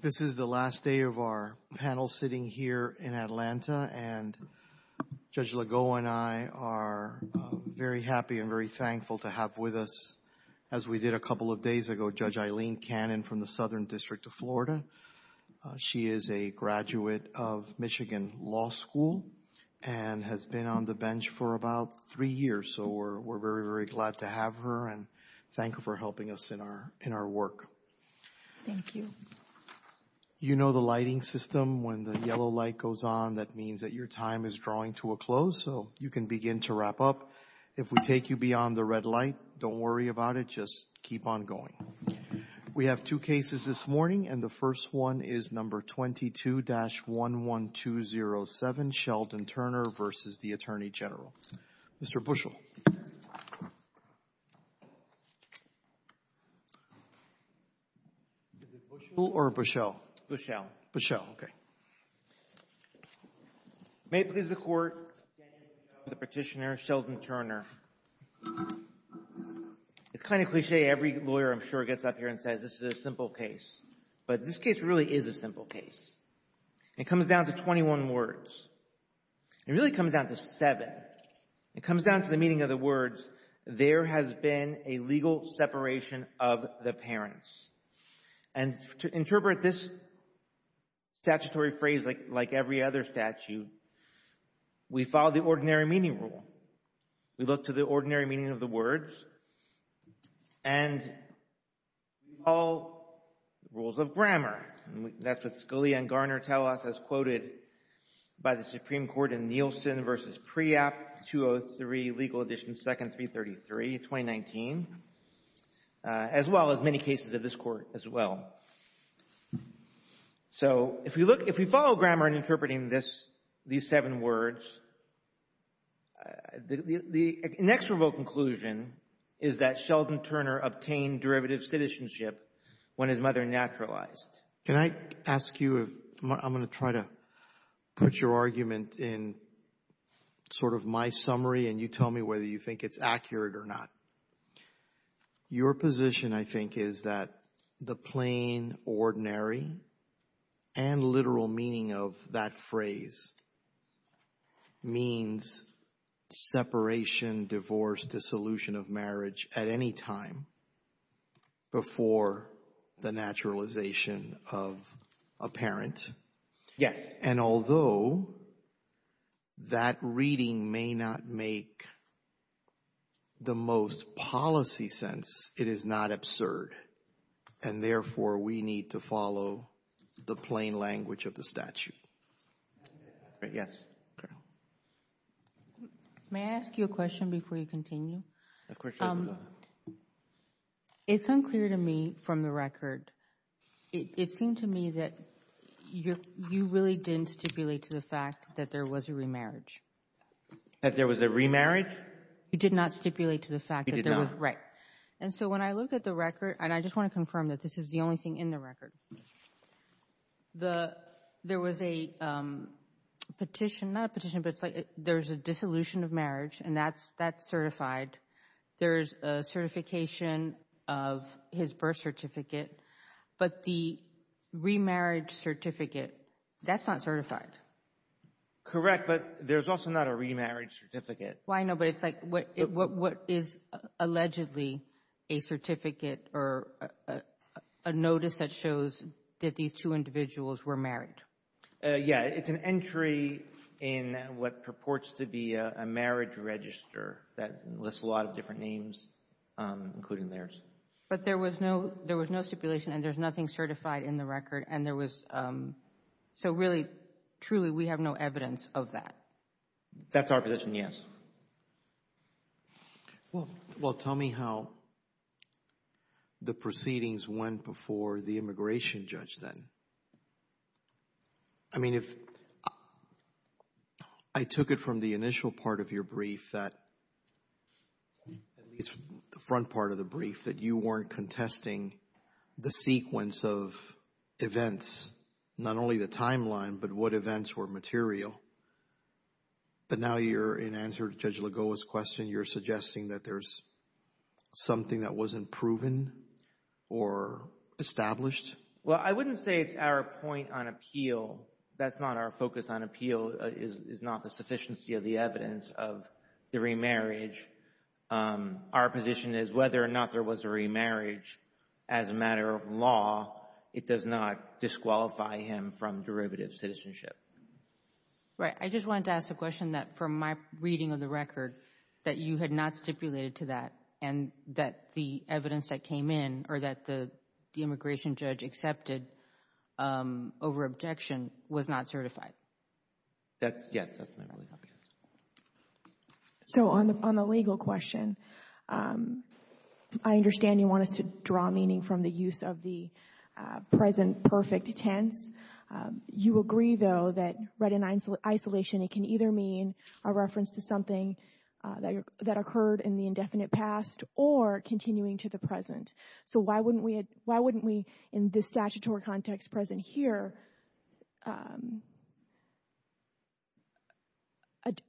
This is the last day of our panel sitting here in Atlanta, and Judge Legault and I are very happy and very thankful to have with us, as we did a couple of days ago, Judge Eileen Cannon from the Southern District of Florida. She is a graduate of Michigan Law School and has been on the bench for about three years, so we're very, very glad to have her and thank her for helping us in our work. Thank you. You know the lighting system. When the yellow light goes on, that means that your time is drawing to a close, so you can begin to wrap up. If we take you beyond the red light, don't worry about it. Just keep on going. We have two cases this morning, and the first one is No. 22-11207, Sheldon Turner v. the U.S. Attorney General Daniel Bushell v. the U.S. Attorney General Sheldon Turner. It's kind of cliché. Every lawyer, I'm sure, gets up here and says this is a simple case, but this case really is a simple case. It comes down to 21 words. It really comes down to separation of the parents. And to interpret this statutory phrase like every other statute, we follow the ordinary meaning rule. We look to the ordinary meaning of the words, and we follow rules of grammar. That's what Scalia and Garner tell us as quoted by the Supreme Court in 2019, as well as many cases of this Court as well. So if we look, if we follow grammar in interpreting this, these seven words, the next revoked conclusion is that Sheldon Turner obtained derivative citizenship when his mother naturalized. Can I ask you, I'm going to try to put your argument in sort of my summary, and you tell me whether you think it's accurate or not. Your position, I think, is that the plain ordinary and literal meaning of that phrase means separation, divorce, dissolution of marriage at any time before the naturalization of a parent. Yes. And although that reading may not make the most policy sense, it is not absurd. And therefore, we need to follow the plain language of the statute. Yes. Okay. May I ask you a question before you continue? Of course you can. It's unclear to me from the record, it seemed to me that you really didn't stipulate to the fact that there was a remarriage. That there was a remarriage? You did not stipulate to the fact that there was a remarriage. I did not. Right. And so when I look at the record, and I just want to confirm that this is the only thing in the record, there was a petition, not a petition, but it's like there's a dissolution of marriage, and that's certified. There's a certification of his birth certificate. But the remarriage certificate, that's not certified. Correct. But there's also not a remarriage certificate. Well, I know, but it's like what is allegedly a certificate or a notice that shows that these two individuals were married? Yeah, it's an entry in what purports to be a marriage register that lists a lot of different names, including theirs. But there was no stipulation, and there's nothing certified in the record, and there was, so really, truly, we have no evidence of that. That's our position, yes. Well, tell me how the proceedings went before the immigration judge then. I mean, if I took it from the initial part of your brief that, at least the front part of the brief, that you weren't contesting the sequence of events, not only the timeline, but what events were material. But now you're, in answer to Judge Lagoa's question, you're suggesting that there's something that wasn't proven or established? Well, I wouldn't say it's our point on appeal. That's not our focus on appeal, is not the sufficiency of the evidence of the remarriage. Our position is whether or not there was a citizenship. Right. I just wanted to ask a question that, from my reading of the record, that you had not stipulated to that, and that the evidence that came in, or that the immigration judge accepted over objection, was not certified. Yes, that's my point. So on the legal question, I understand you want us to draw meaning from the use of the present perfect tense. You agree, though, that right in isolation, it can either mean a reference to something that occurred in the indefinite past or continuing to the present. So why wouldn't we, in this statutory context present here,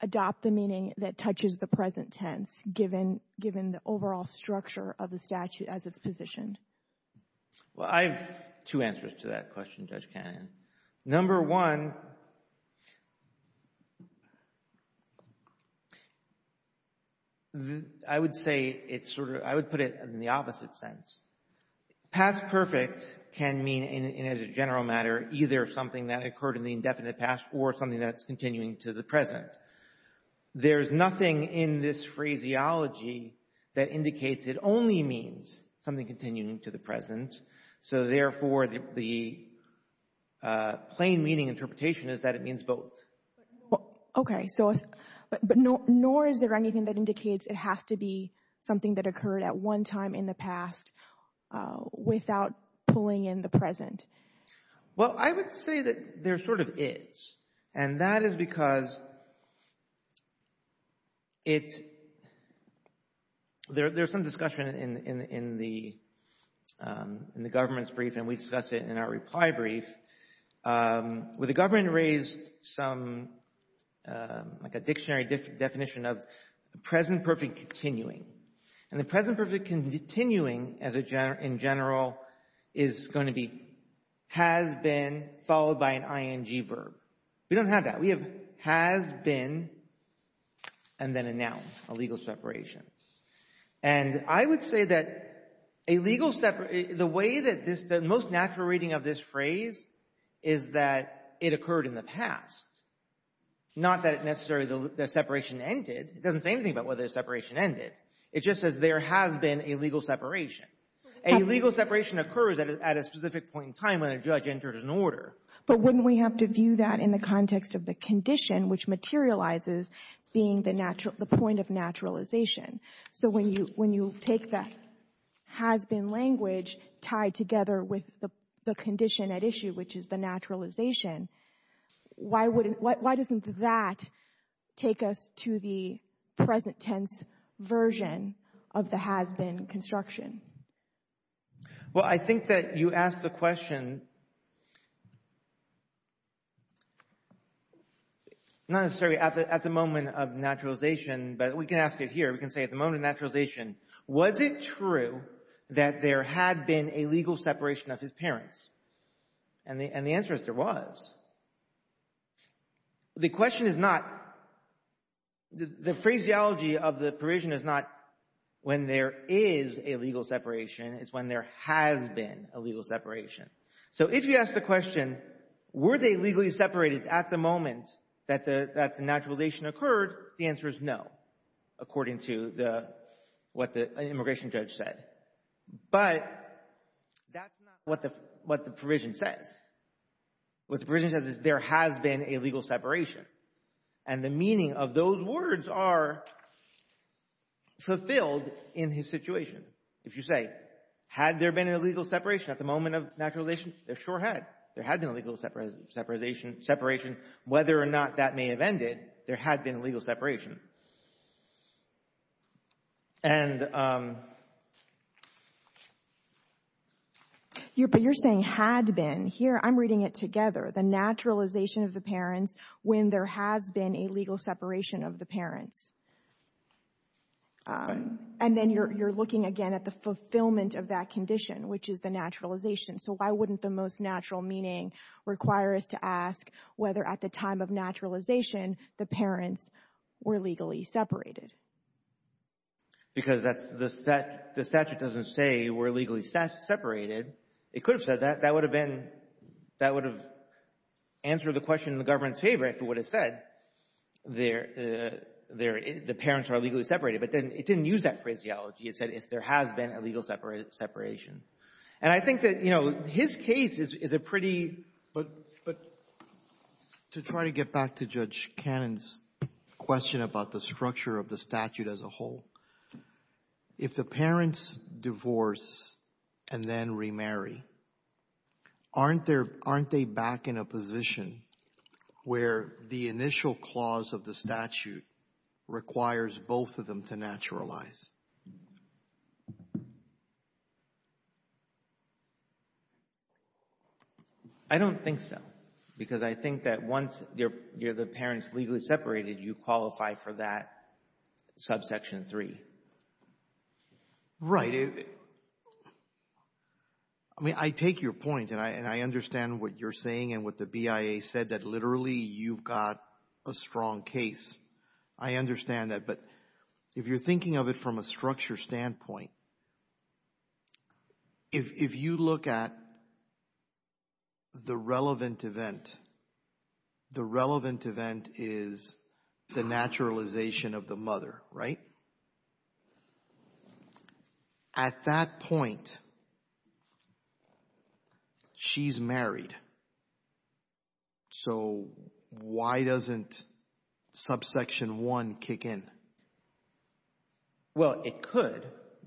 adopt the meaning that touches the present tense, given the overall structure of the statute as it's positioned? Well, I have two answers to that question, Judge Cannon. Number one, I would say it's sort of, I would put it in the opposite sense. Past perfect can mean, as a general matter, either something that occurred in the indefinite past or something that's continuing to the present. So therefore, the plain meaning interpretation is that it means both. Okay, so, but nor is there anything that indicates it has to be something that occurred at one time in the past without pulling in the present. Well, I would say that there sort of is, and that is because it's, there's some discussion in the government's brief, and we discuss it in our reply brief, where the government raised some, like a dictionary definition of present perfect continuing. And the present perfect continuing, in general, is going to be has been followed by an ing verb. We don't say that a legal, the way that this, the most natural reading of this phrase is that it occurred in the past. Not that it necessarily, the separation ended. It doesn't say anything about whether the separation ended. It just says there has been a legal separation. A legal separation occurs at a specific point in time when a judge enters an order. But wouldn't we have to view that in the context of the condition, which materializes being the point of naturalization? So when you take that has been language tied together with the condition at issue, which is the naturalization, why doesn't that take us to the present tense version of the has been construction? Well, I think that you asked the question, not necessarily at the moment of naturalization, but we can ask it here. We can say at the moment of naturalization, was it true that there had been a legal separation of his parents? And the answer is there was. The question is not, the phraseology of the provision is not when there is a legal separation, it's when there has been a legal separation. So if you ask the question, were they legally separated at the moment that the naturalization occurred? The answer is no, according to the, what the immigration judge said. But that's not what the provision says. What the provision says is there has been a legal separation. And the meaning of those words are fulfilled in his situation. If you say, had there been a legal separation at the moment of naturalization? There sure had. There had been a legal separation. Whether or not that may have ended, there had been a legal separation. But you're saying had been. Here, I'm reading it together. The naturalization of the parents when there has been a legal separation of the parents. And then you're looking again at the fulfillment of that condition, which is the naturalization. So why wouldn't the most natural meaning require us to ask whether at the time of naturalization, the parents were legally separated? Because that's, the statute doesn't say were legally separated. It could have said that. That would have been, that would have answered the question in the government's favor if it would have said the parents are legally separated. But it didn't use that phraseology. It said if there has been a legal separation. And I think that, you know, his case is a pretty, but. To try to get back to Judge Cannon's question about the structure of the statute as a whole, if the parents divorce and then remarry, aren't there, aren't they back in a position where the initial clause of the statute requires both of them to naturalize? I don't think so. Because I think that once you're, you're the parents legally separated, you qualify for that subsection 3. Right. I mean, I take your point and I understand what you're saying and what the BIA said, that literally you've got a strong case. I understand that. But if you're thinking of it from a structure standpoint, if you look at the relevant event, the relevant event is the naturalization of the mother, right? At that point, she's married. So why doesn't subsection 1 kick in? Well, it could.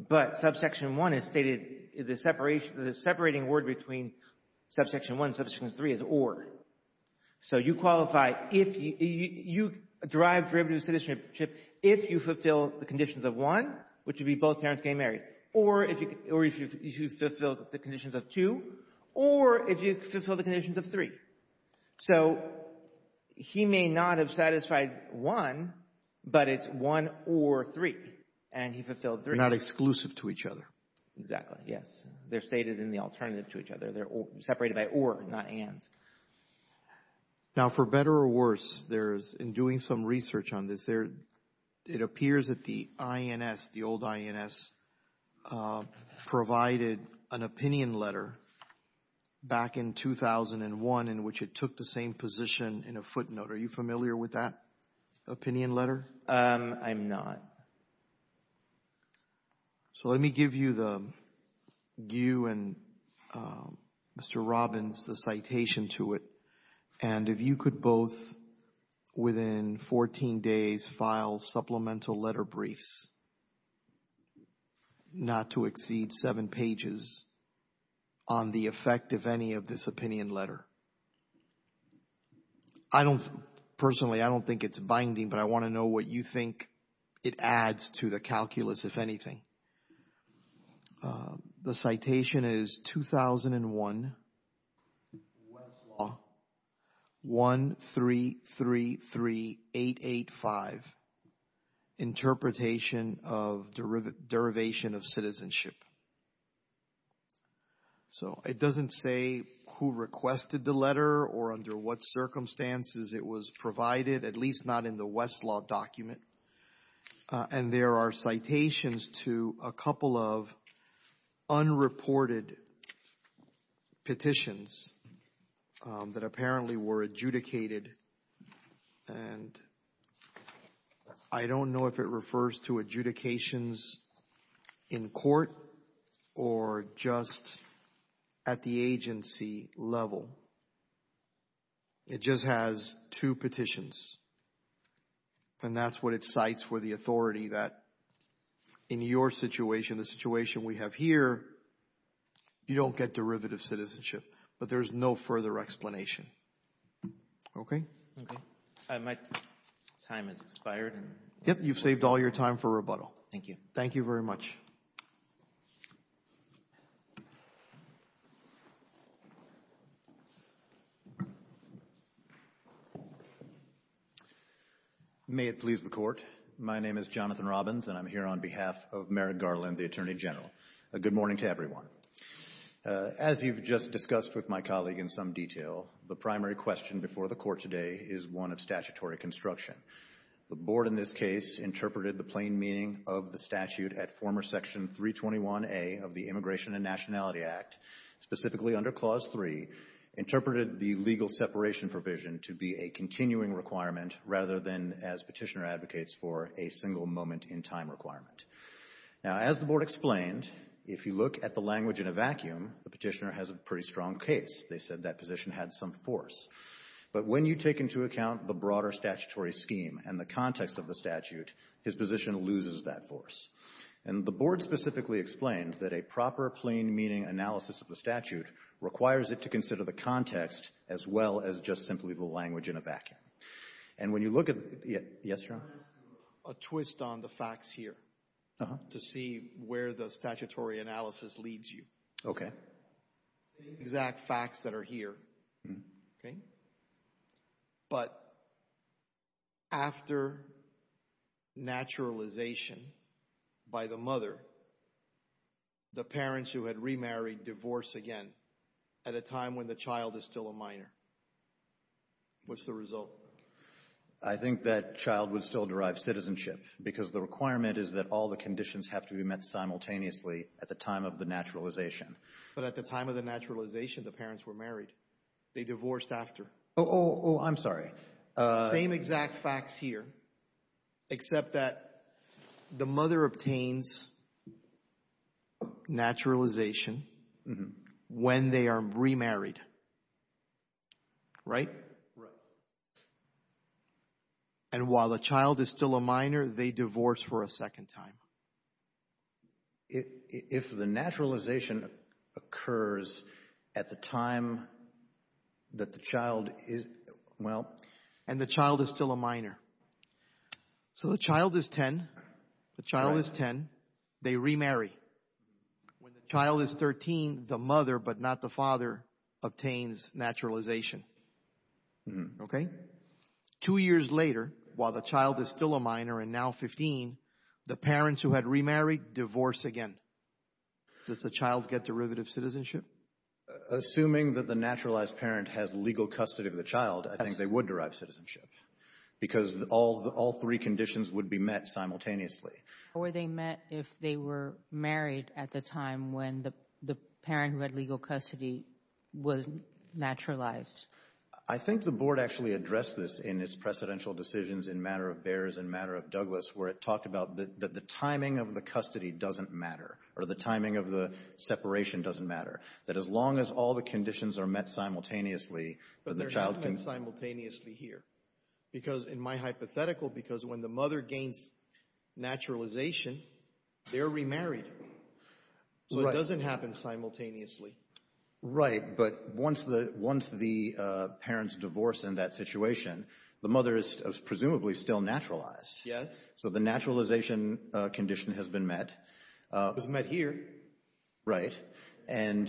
But subsection 1 is stated, the separation, the separating word between subsection 1 and subsection 3 is or. So you qualify, you derive derivative citizenship if you fulfill the conditions of 1, which would be both parents getting married, or if you fulfilled the conditions of 2, or if you fulfilled the conditions of 3. So he may not have satisfied 1, but it's 1 or 3. And he fulfilled 3. They're not exclusive to each other. Exactly, yes. They're stated in the alternative to each other. They're separated by or, not and. Now, for better or worse, there's, in doing some research on this, it appears that the INS, the old INS, provided an opinion letter back in 2001 in which it took the same position in a footnote. Are you familiar with that opinion letter? I'm not. So let me give you the, you and Mr. Robbins, the citation to it. And if you could both within 14 days file supplemental letter briefs, not to exceed 7 pages, on the effect of any of this opinion letter. I don't, personally, I don't think it's binding, but I want to know what you think it adds to the calculus, if anything. The citation is 2001, Westlaw, 1333885, Interpretation of Derivation of Citizenship. So it doesn't say who requested the letter or under what circumstances it was provided, at least not in the Westlaw document. And there are citations to a couple of unreported petitions that apparently were adjudicated. And I don't know if it refers to adjudications in court or just at the agency level. It just has two petitions. And that's what it cites for the authority that in your situation, the situation we have here, you don't get derivative citizenship, but there's no further explanation. Okay? Okay. My time has expired. Yep. You've saved all your time for rebuttal. Thank you. Thank you very much. May it please the Court. My name is Jonathan Robbins, and I'm here on behalf of Merrick Garland, the Attorney General. A good morning to everyone. As you've just discussed with my colleague in some detail, the primary question before the Court today is one of statutory construction. The Board in this case interpreted the plain meaning of the statute at former Section 321A of the Immigration and Nationality Act, specifically under Clause 3, interpreted the legal separation provision to be a continuing requirement rather than as petitioner advocates for a single moment in time requirement. Now, as the Board explained, if you look at the language in a vacuum, the petitioner has a pretty strong case. They said that position had some force. But when you take into account the broader statutory scheme and the context of the statute, his position loses that force. And the Board specifically explained that a proper plain meaning analysis of the statute requires it to consider the context as well as just simply the language in a vacuum. And when you look at the — yes, Your Honor? I'm going to ask you a twist on the facts here to see where the statutory analysis leads you. Okay. Same exact facts that are here, okay? But after naturalization by the mother, the parents who had remarried divorce again at a time when the child is still a minor. What's the result? I think that child would still derive citizenship because the requirement is that all the conditions have to be met simultaneously at the time of the naturalization. But at the time of the naturalization, the parents were married. They divorced after. Oh, oh, oh, I'm sorry. Same exact facts here, except that the mother obtains naturalization when they are remarried, right? Right. And while the child is still a minor, they divorce for a second time. If the naturalization occurs at the time that the child is — well — And the child is still a minor. So the child is 10. The child is 10. They remarry. When the child is 13, the mother but not the father obtains naturalization. Okay? Two years later, while the child is still a minor and now 15, the parents who had remarried divorce again. Does the child get derivative citizenship? Assuming that the naturalized parent has legal custody of the child, I think they would derive citizenship because all three conditions would be met simultaneously. Or they met if they were married at the time when the parent who had legal custody was naturalized. I think the board actually addressed this in its precedential decisions in Matter of Bears and Matter of Douglas where it talked about that the timing of the custody doesn't matter, or the timing of the separation doesn't matter. That as long as all the conditions are met simultaneously, then the child can — Because in my hypothetical, because when the mother gains naturalization, they're remarried. So it doesn't happen simultaneously. Right, but once the parents divorce in that situation, the mother is presumably still naturalized. Yes. So the naturalization condition has been met. It was met here. Right. And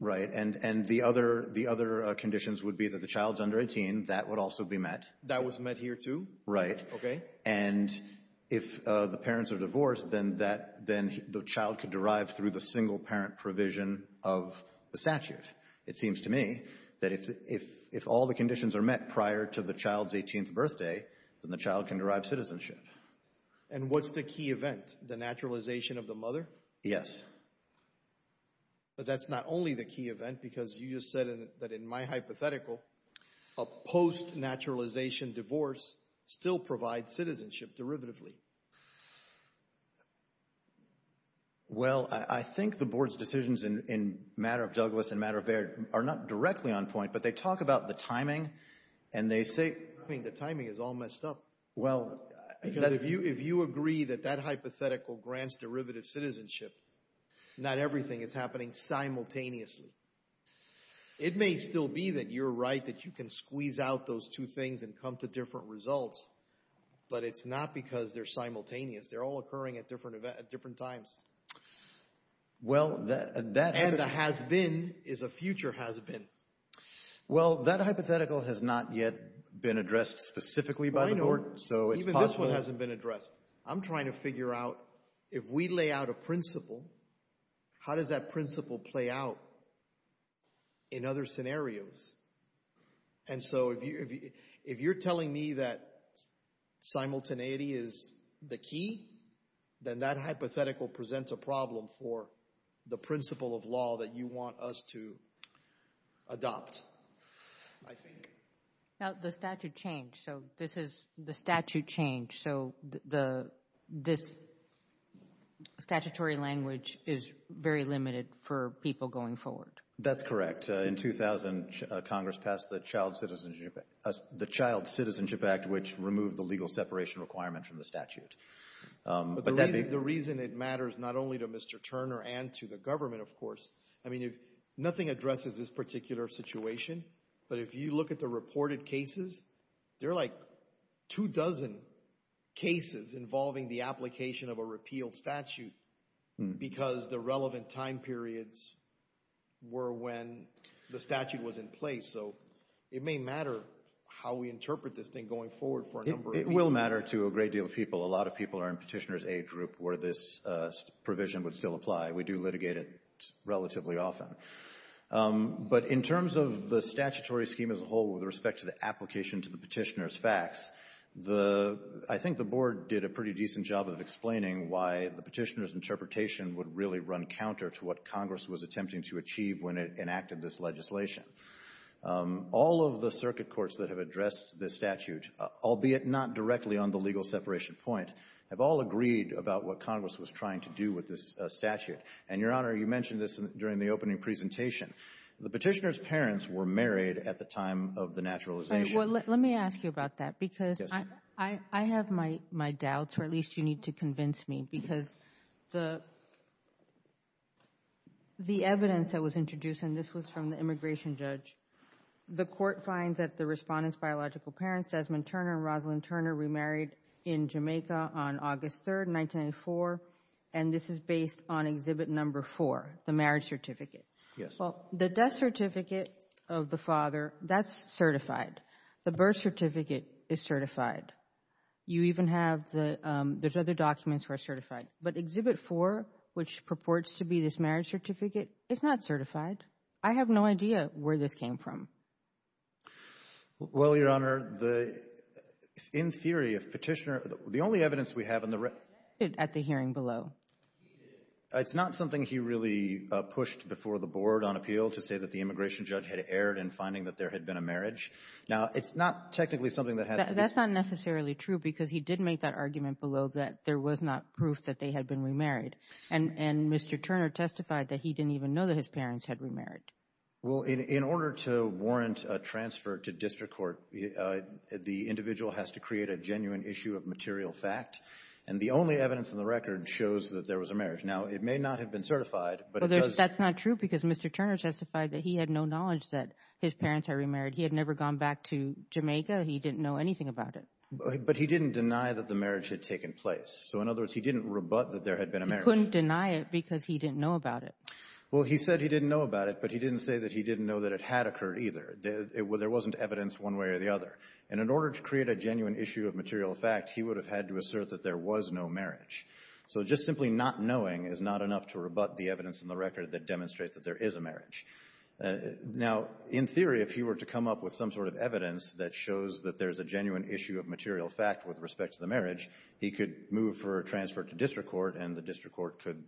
the other conditions would be that the child's under 18. That would also be met. That was met here, too? Right. And if the parents are divorced, then the child could derive through the single-parent provision of the statute. It seems to me that if all the conditions are met prior to the child's 18th birthday, then the child can derive citizenship. And what's the key event? The naturalization of the mother? Yes. But that's not only the key event, because you just said that in my hypothetical, a post-naturalization divorce still provides citizenship derivatively. Well, I think the Board's decisions in Matter of Douglas and Matter of Baird are not directly on point, but they talk about the timing, and they say — I mean, the timing is all messed up. Well, if you agree that that hypothetical grants derivative citizenship, not everything is happening simultaneously. It may still be that you're right, that you can squeeze out those two things and come to different results, but it's not because they're simultaneous. They're all occurring at different times. And a has-been is a future has-been. Well, that hypothetical has not yet been addressed specifically by the Board, so it's possible — I know. Even this one hasn't been addressed. I'm trying to figure out, if we lay out a principle, how does that principle play out in other scenarios? And so if you're telling me that simultaneity is the key, then that hypothetical presents a problem for the principle of law that you want us to adopt, I think. Now, the statute changed, so this is — the statute changed, so this statutory language is very limited for people going forward. That's correct. In 2000, Congress passed the Child Citizenship Act, which removed the legal separation requirement from the statute. But the reason it matters not only to Mr. Turner and to the government, of course — I mean, nothing addresses this particular situation, but if you look at the reported cases, there are like two dozen cases involving the application of a repealed statute because the relevant time periods were when the statute was in place. So it may matter how we interpret this thing going forward for a number of years. It will matter to a great deal of people. A lot of people are in Petitioner's Aid group where this provision would still apply. We do litigate it relatively often. But in terms of the statutory scheme as a whole with respect to the application to the petitioner's facts, the — I think the Board did a pretty decent job of explaining why the petitioner's interpretation would really run counter to what Congress was attempting to achieve when it enacted this legislation. All of the circuit courts that have addressed this statute, albeit not directly on the legal separation point, have all agreed about what Congress was trying to do with this statute. And, Your Honor, you mentioned this during the opening presentation. The petitioner's parents were married at the time of the naturalization. Well, let me ask you about that because I have my doubts, or at least you need to convince me, because the evidence that was introduced, and this was from the immigration judge, the court finds that the respondent's biological parents, Desmond Turner and Rosalyn Turner, remarried in Jamaica on August 3, 1994, and this is based on Exhibit No. 4, the marriage certificate. Yes. Well, the death certificate of the father, that's certified. The birth certificate is certified. You even have the — there's other documents that are certified. But Exhibit 4, which purports to be this marriage certificate, is not certified. I have no idea where this came from. Well, Your Honor, the — in theory, if petitioner — the only evidence we have in the — At the hearing below. It's not something he really pushed before the board on appeal to say that the immigration judge had erred in finding that there had been a marriage. Now, it's not technically something that has to be — That's not necessarily true because he did make that argument below that there was not proof that they had been remarried, and Mr. Turner testified that he didn't even know that his parents had remarried. Well, in order to warrant a transfer to district court, the individual has to create a genuine issue of material fact, and the only evidence in the record shows that there was a marriage. Now, it may not have been certified, but it does — Well, that's not true because Mr. Turner testified that he had no knowledge that his parents had remarried. He had never gone back to Jamaica. He didn't know anything about it. But he didn't deny that the marriage had taken place. So, in other words, he didn't rebut that there had been a marriage. He couldn't deny it because he didn't know about it. Well, he said he didn't know about it, but he didn't say that he didn't know that it had occurred either. There wasn't evidence one way or the other. And in order to create a genuine issue of material fact, he would have had to assert that there was no marriage. So just simply not knowing is not enough to rebut the evidence in the record that demonstrates that there is a marriage. Now, in theory, if he were to come up with some sort of evidence that shows that there's a genuine issue of material fact with respect to the marriage, he could move for a transfer to district court, and the district court could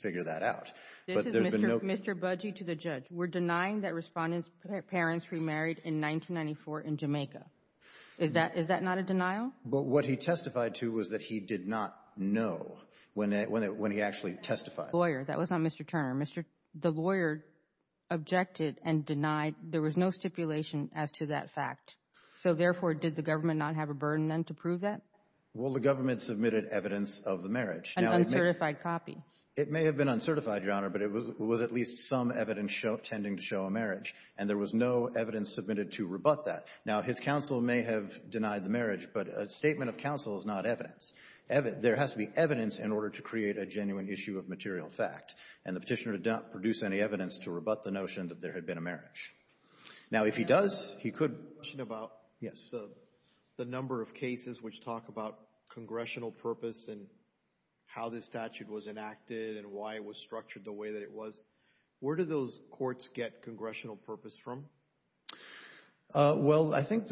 figure that out. This is Mr. Budgey to the judge. We're denying that Respondent's parents remarried in 1994 in Jamaica. Is that not a denial? But what he testified to was that he did not know when he actually testified. Lawyer, that was not Mr. Turner. The lawyer objected and denied. There was no stipulation as to that fact. So, therefore, did the government not have a burden then to prove that? Well, the government submitted evidence of the marriage. An uncertified copy. It may have been uncertified, Your Honor, but it was at least some evidence tending to show a marriage, and there was no evidence submitted to rebut that. Now, his counsel may have denied the marriage, but a statement of counsel is not evidence. There has to be evidence in order to create a genuine issue of material fact, and the petitioner did not produce any evidence to rebut the notion that there had been a marriage. Now, if he does, he could. Yes. The number of cases which talk about congressional purpose and how this statute was enacted and why it was structured the way that it was, where do those courts get congressional purpose from? Well, I think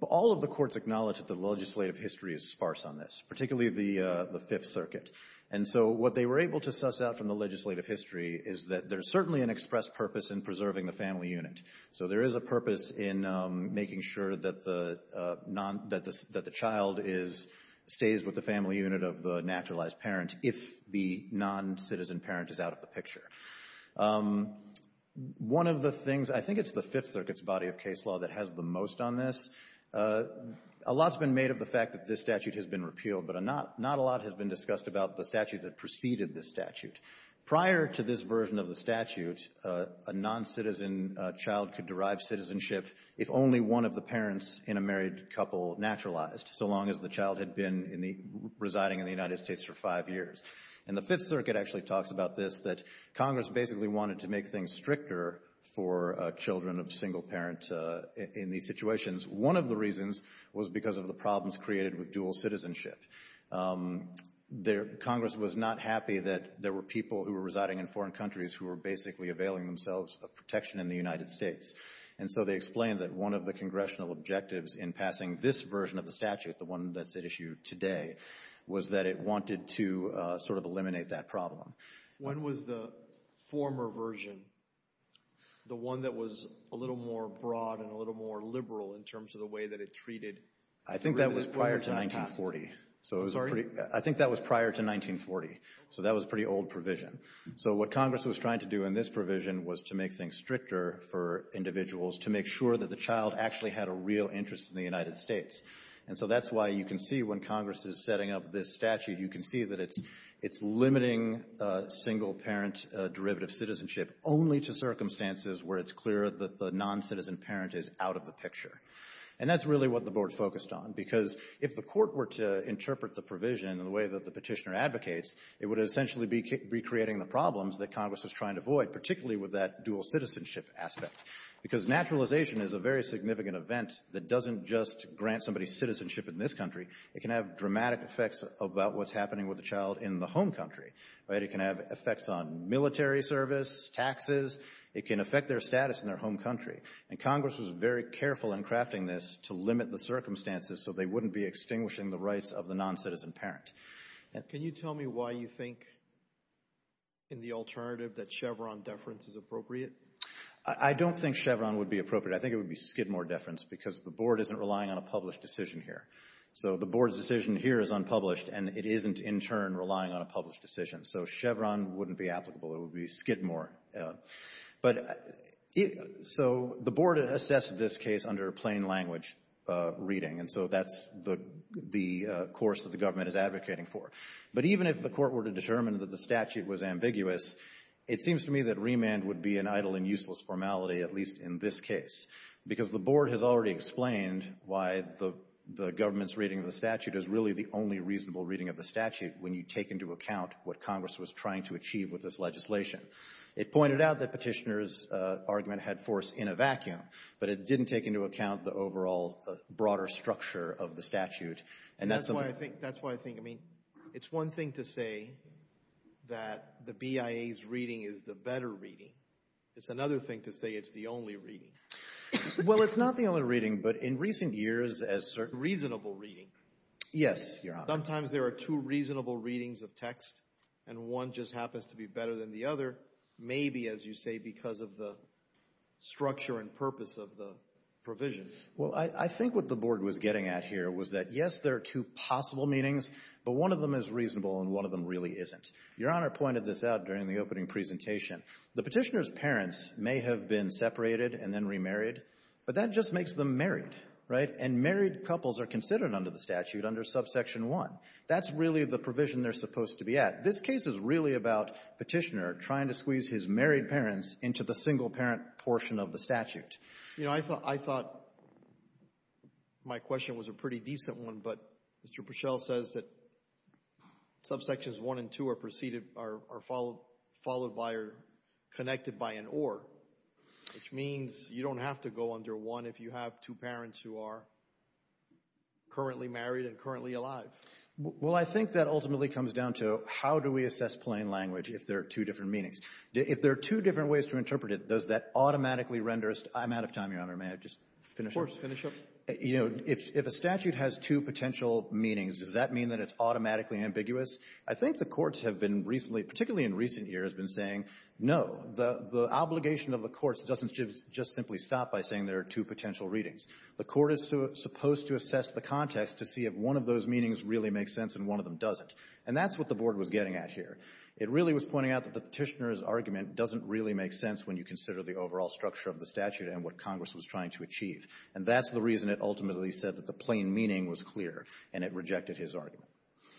all of the courts acknowledge that the legislative history is sparse on this, particularly the Fifth Circuit. And so what they were able to suss out from the legislative history is that there's certainly an express purpose in preserving the family unit. So there is a purpose in making sure that the child stays with the family unit of the naturalized parent if the noncitizen parent is out of the picture. One of the things, I think it's the Fifth Circuit's body of case law that has the most on this. A lot's been made of the fact that this statute has been repealed, but not a lot has been discussed about the statute that preceded this statute. Prior to this version of the statute, a noncitizen child could derive citizenship if only one of the parents in a married couple naturalized, so long as the child had been residing in the United States for five years. And the Fifth Circuit actually talks about this, that Congress basically wanted to make things stricter for children of single parents in these situations. One of the reasons was because of the problems created with dual citizenship. Congress was not happy that there were people who were residing in foreign countries who were basically availing themselves of protection in the United States. And so they explained that one of the Congressional objectives in passing this version of the statute, the one that's at issue today, was that it wanted to sort of eliminate that problem. When was the former version, the one that was a little more broad and a little more liberal in terms of the way that it treated— I think that was prior to 1940. I'm sorry? I think that was prior to 1940. So that was a pretty old provision. So what Congress was trying to do in this provision was to make things stricter for individuals to make sure that the child actually had a real interest in the United States. And so that's why you can see when Congress is setting up this statute, you can see that it's limiting single-parent derivative citizenship only to circumstances where it's clear that the noncitizen parent is out of the picture. And that's really what the board focused on, because if the court were to interpret the provision in the way that the petitioner advocates, it would essentially be recreating the problems that Congress was trying to avoid, particularly with that dual citizenship aspect. Because naturalization is a very significant event that doesn't just grant somebody citizenship in this country. It can have dramatic effects about what's happening with the child in the home country. Right? It can have effects on military service, taxes. It can affect their status in their home country. And Congress was very careful in crafting this to limit the circumstances so they wouldn't be extinguishing the rights of the noncitizen parent. Can you tell me why you think, in the alternative, that Chevron deference is appropriate? I don't think Chevron would be appropriate. I think it would be Skidmore deference, because the board isn't relying on a published decision here. So the board's decision here is unpublished, and it isn't, in turn, relying on a published decision. So Chevron wouldn't be applicable. It would be Skidmore. But so the board assessed this case under plain language reading, and so that's the course that the government is advocating for. But even if the court were to determine that the statute was ambiguous, it seems to me that remand would be an idle and useless formality, at least in this case, because the board has already explained why the government's reading of the statute is really the only reasonable reading of the statute when you take into account what Congress was trying to achieve with this legislation. It pointed out that Petitioner's argument had force in a vacuum, but it didn't take into account the overall broader structure of the statute. That's why I think, I mean, it's one thing to say that the BIA's reading is the better reading. It's another thing to say it's the only reading. Well, it's not the only reading, but in recent years, as certain— Reasonable reading. Yes, Your Honor. Sometimes there are two reasonable readings of text, and one just happens to be better than the other, maybe, as you say, because of the structure and purpose of the provision. Well, I think what the board was getting at here was that, yes, there are two possible meanings, but one of them is reasonable and one of them really isn't. Your Honor pointed this out during the opening presentation. The Petitioner's parents may have been separated and then remarried, but that just makes them married, right? And married couples are considered under the statute under subsection 1. That's really the provision they're supposed to be at. This case is really about Petitioner trying to squeeze his married parents into the single-parent portion of the statute. You know, I thought my question was a pretty decent one, but Mr. Purcell says that subsections 1 and 2 are preceded—are followed by or connected by an or, which means you don't have to go under 1 if you have two parents who are currently married and currently alive. Well, I think that ultimately comes down to how do we assess plain language if there are two different meanings. If there are two different ways to interpret it, does that automatically render us — I'm out of time, Your Honor. May I just finish up? Of course. Finish up. You know, if a statute has two potential meanings, does that mean that it's automatically ambiguous? I think the courts have been recently, particularly in recent years, been saying, no, the obligation of the courts doesn't just simply stop by saying there are two potential readings. The court is supposed to assess the context to see if one of those meanings really makes sense and one of them doesn't. And that's what the Board was getting at here. It really was pointing out that the Petitioner's argument doesn't really make sense when you consider the overall structure of the statute and what Congress was trying to achieve. And that's the reason it ultimately said that the plain meaning was clear and it rejected his argument.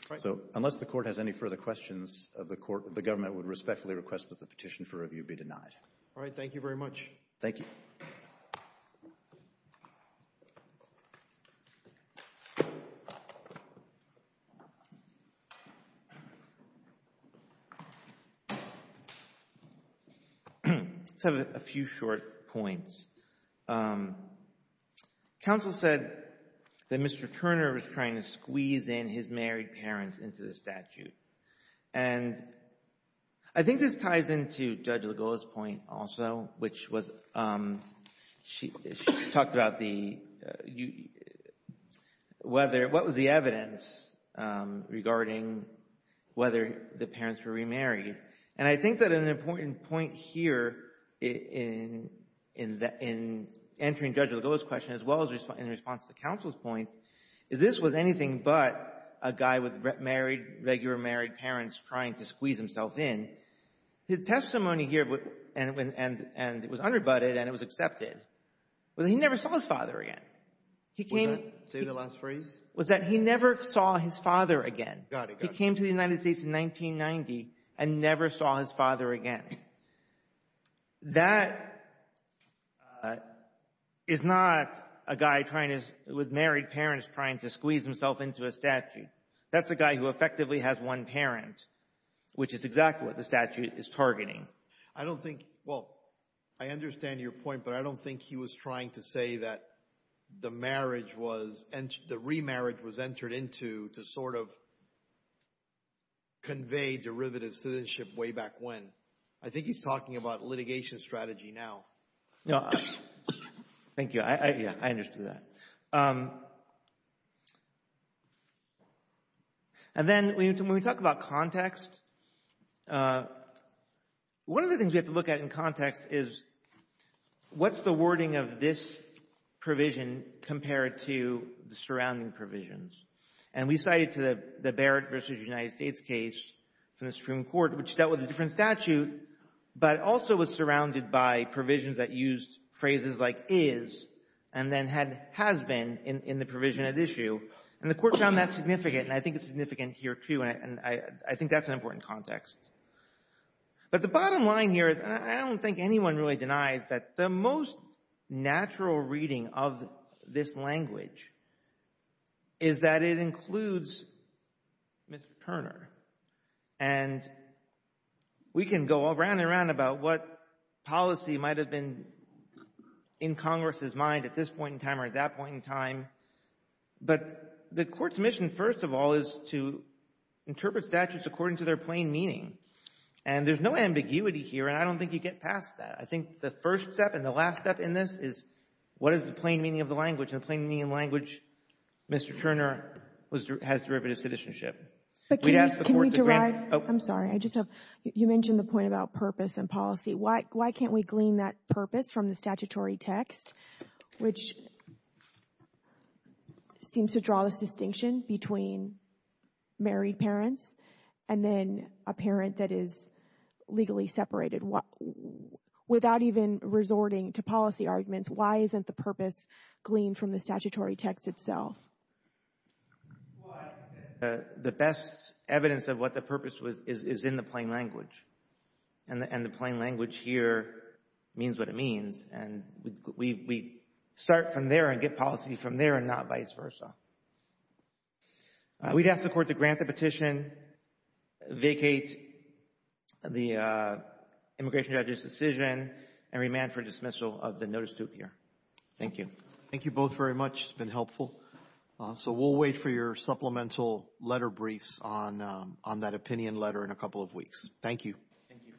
Right. So unless the Court has any further questions of the Court, the government would respectfully request that the petition for review be denied. All right. Thank you very much. Thank you. Let's have a few short points. Counsel said that Mr. Turner was trying to squeeze in his married parents into the statute. And I think this ties into Judge Lagoa's point also, which was she talked about the whether what was the evidence regarding whether the parents were remarried. And I think that an important point here in entering Judge Lagoa's question as well as in response to counsel's point is this was anything but a guy with married regular married parents trying to squeeze himself in. The testimony here and it was under-butted and it was accepted was he never saw his father again. Was that the last phrase? Was that he never saw his father again. Got it. He came to the United States in 1990 and never saw his father again. That is not a guy trying to with married parents trying to squeeze himself into a statute. That's a guy who effectively has one parent, which is exactly what the statute is targeting. I don't think, well, I understand your point, but I don't think he was trying to say that the marriage was, the remarriage was entered into to sort of convey derivative citizenship way back when. I think he's talking about litigation strategy now. Thank you. Yeah, I understood that. And then when we talk about context, one of the things we have to look at in context is what's the wording of this provision compared to the surrounding provisions? And we cited the Barrett versus United States case from the Supreme Court, which dealt with a different statute, but also was surrounded by provisions that used phrases like is and then had has been in the provision at issue. And the Court found that significant, and I think it's significant here, too, and I think that's an important context. But the bottom line here is, and I don't think anyone really denies, that the most natural reading of this language is that it includes Mr. Turner. And we can go around and around about what policy might have been in Congress's mind at this point in time or at that point in time, but the Court's mission, first of all, is to interpret statutes according to their plain meaning. And there's no ambiguity here, and I don't think you get past that. I think the first step and the last step in this is, what is the plain meaning of the language? And the plain meaning of the language, Mr. Turner, has derivative citizenship. But can we derive – I'm sorry. I just have – you mentioned the point about purpose and policy. Why can't we glean that purpose from the statutory text, which seems to draw this distinction between married parents and then a parent that is legally separated? Without even resorting to policy arguments, why isn't the purpose gleaned from the statutory text itself? Why? The best evidence of what the purpose was is in the plain language, and the plain language here means what it means. And we start from there and get policy from there and not vice versa. We'd ask the Court to grant the petition, vacate the immigration judge's decision, and remand for dismissal of the notice to appear. Thank you. Thank you both very much. It's been helpful. So we'll wait for your supplemental letter briefs on that opinion letter in a couple of weeks. Thank you. Thank you.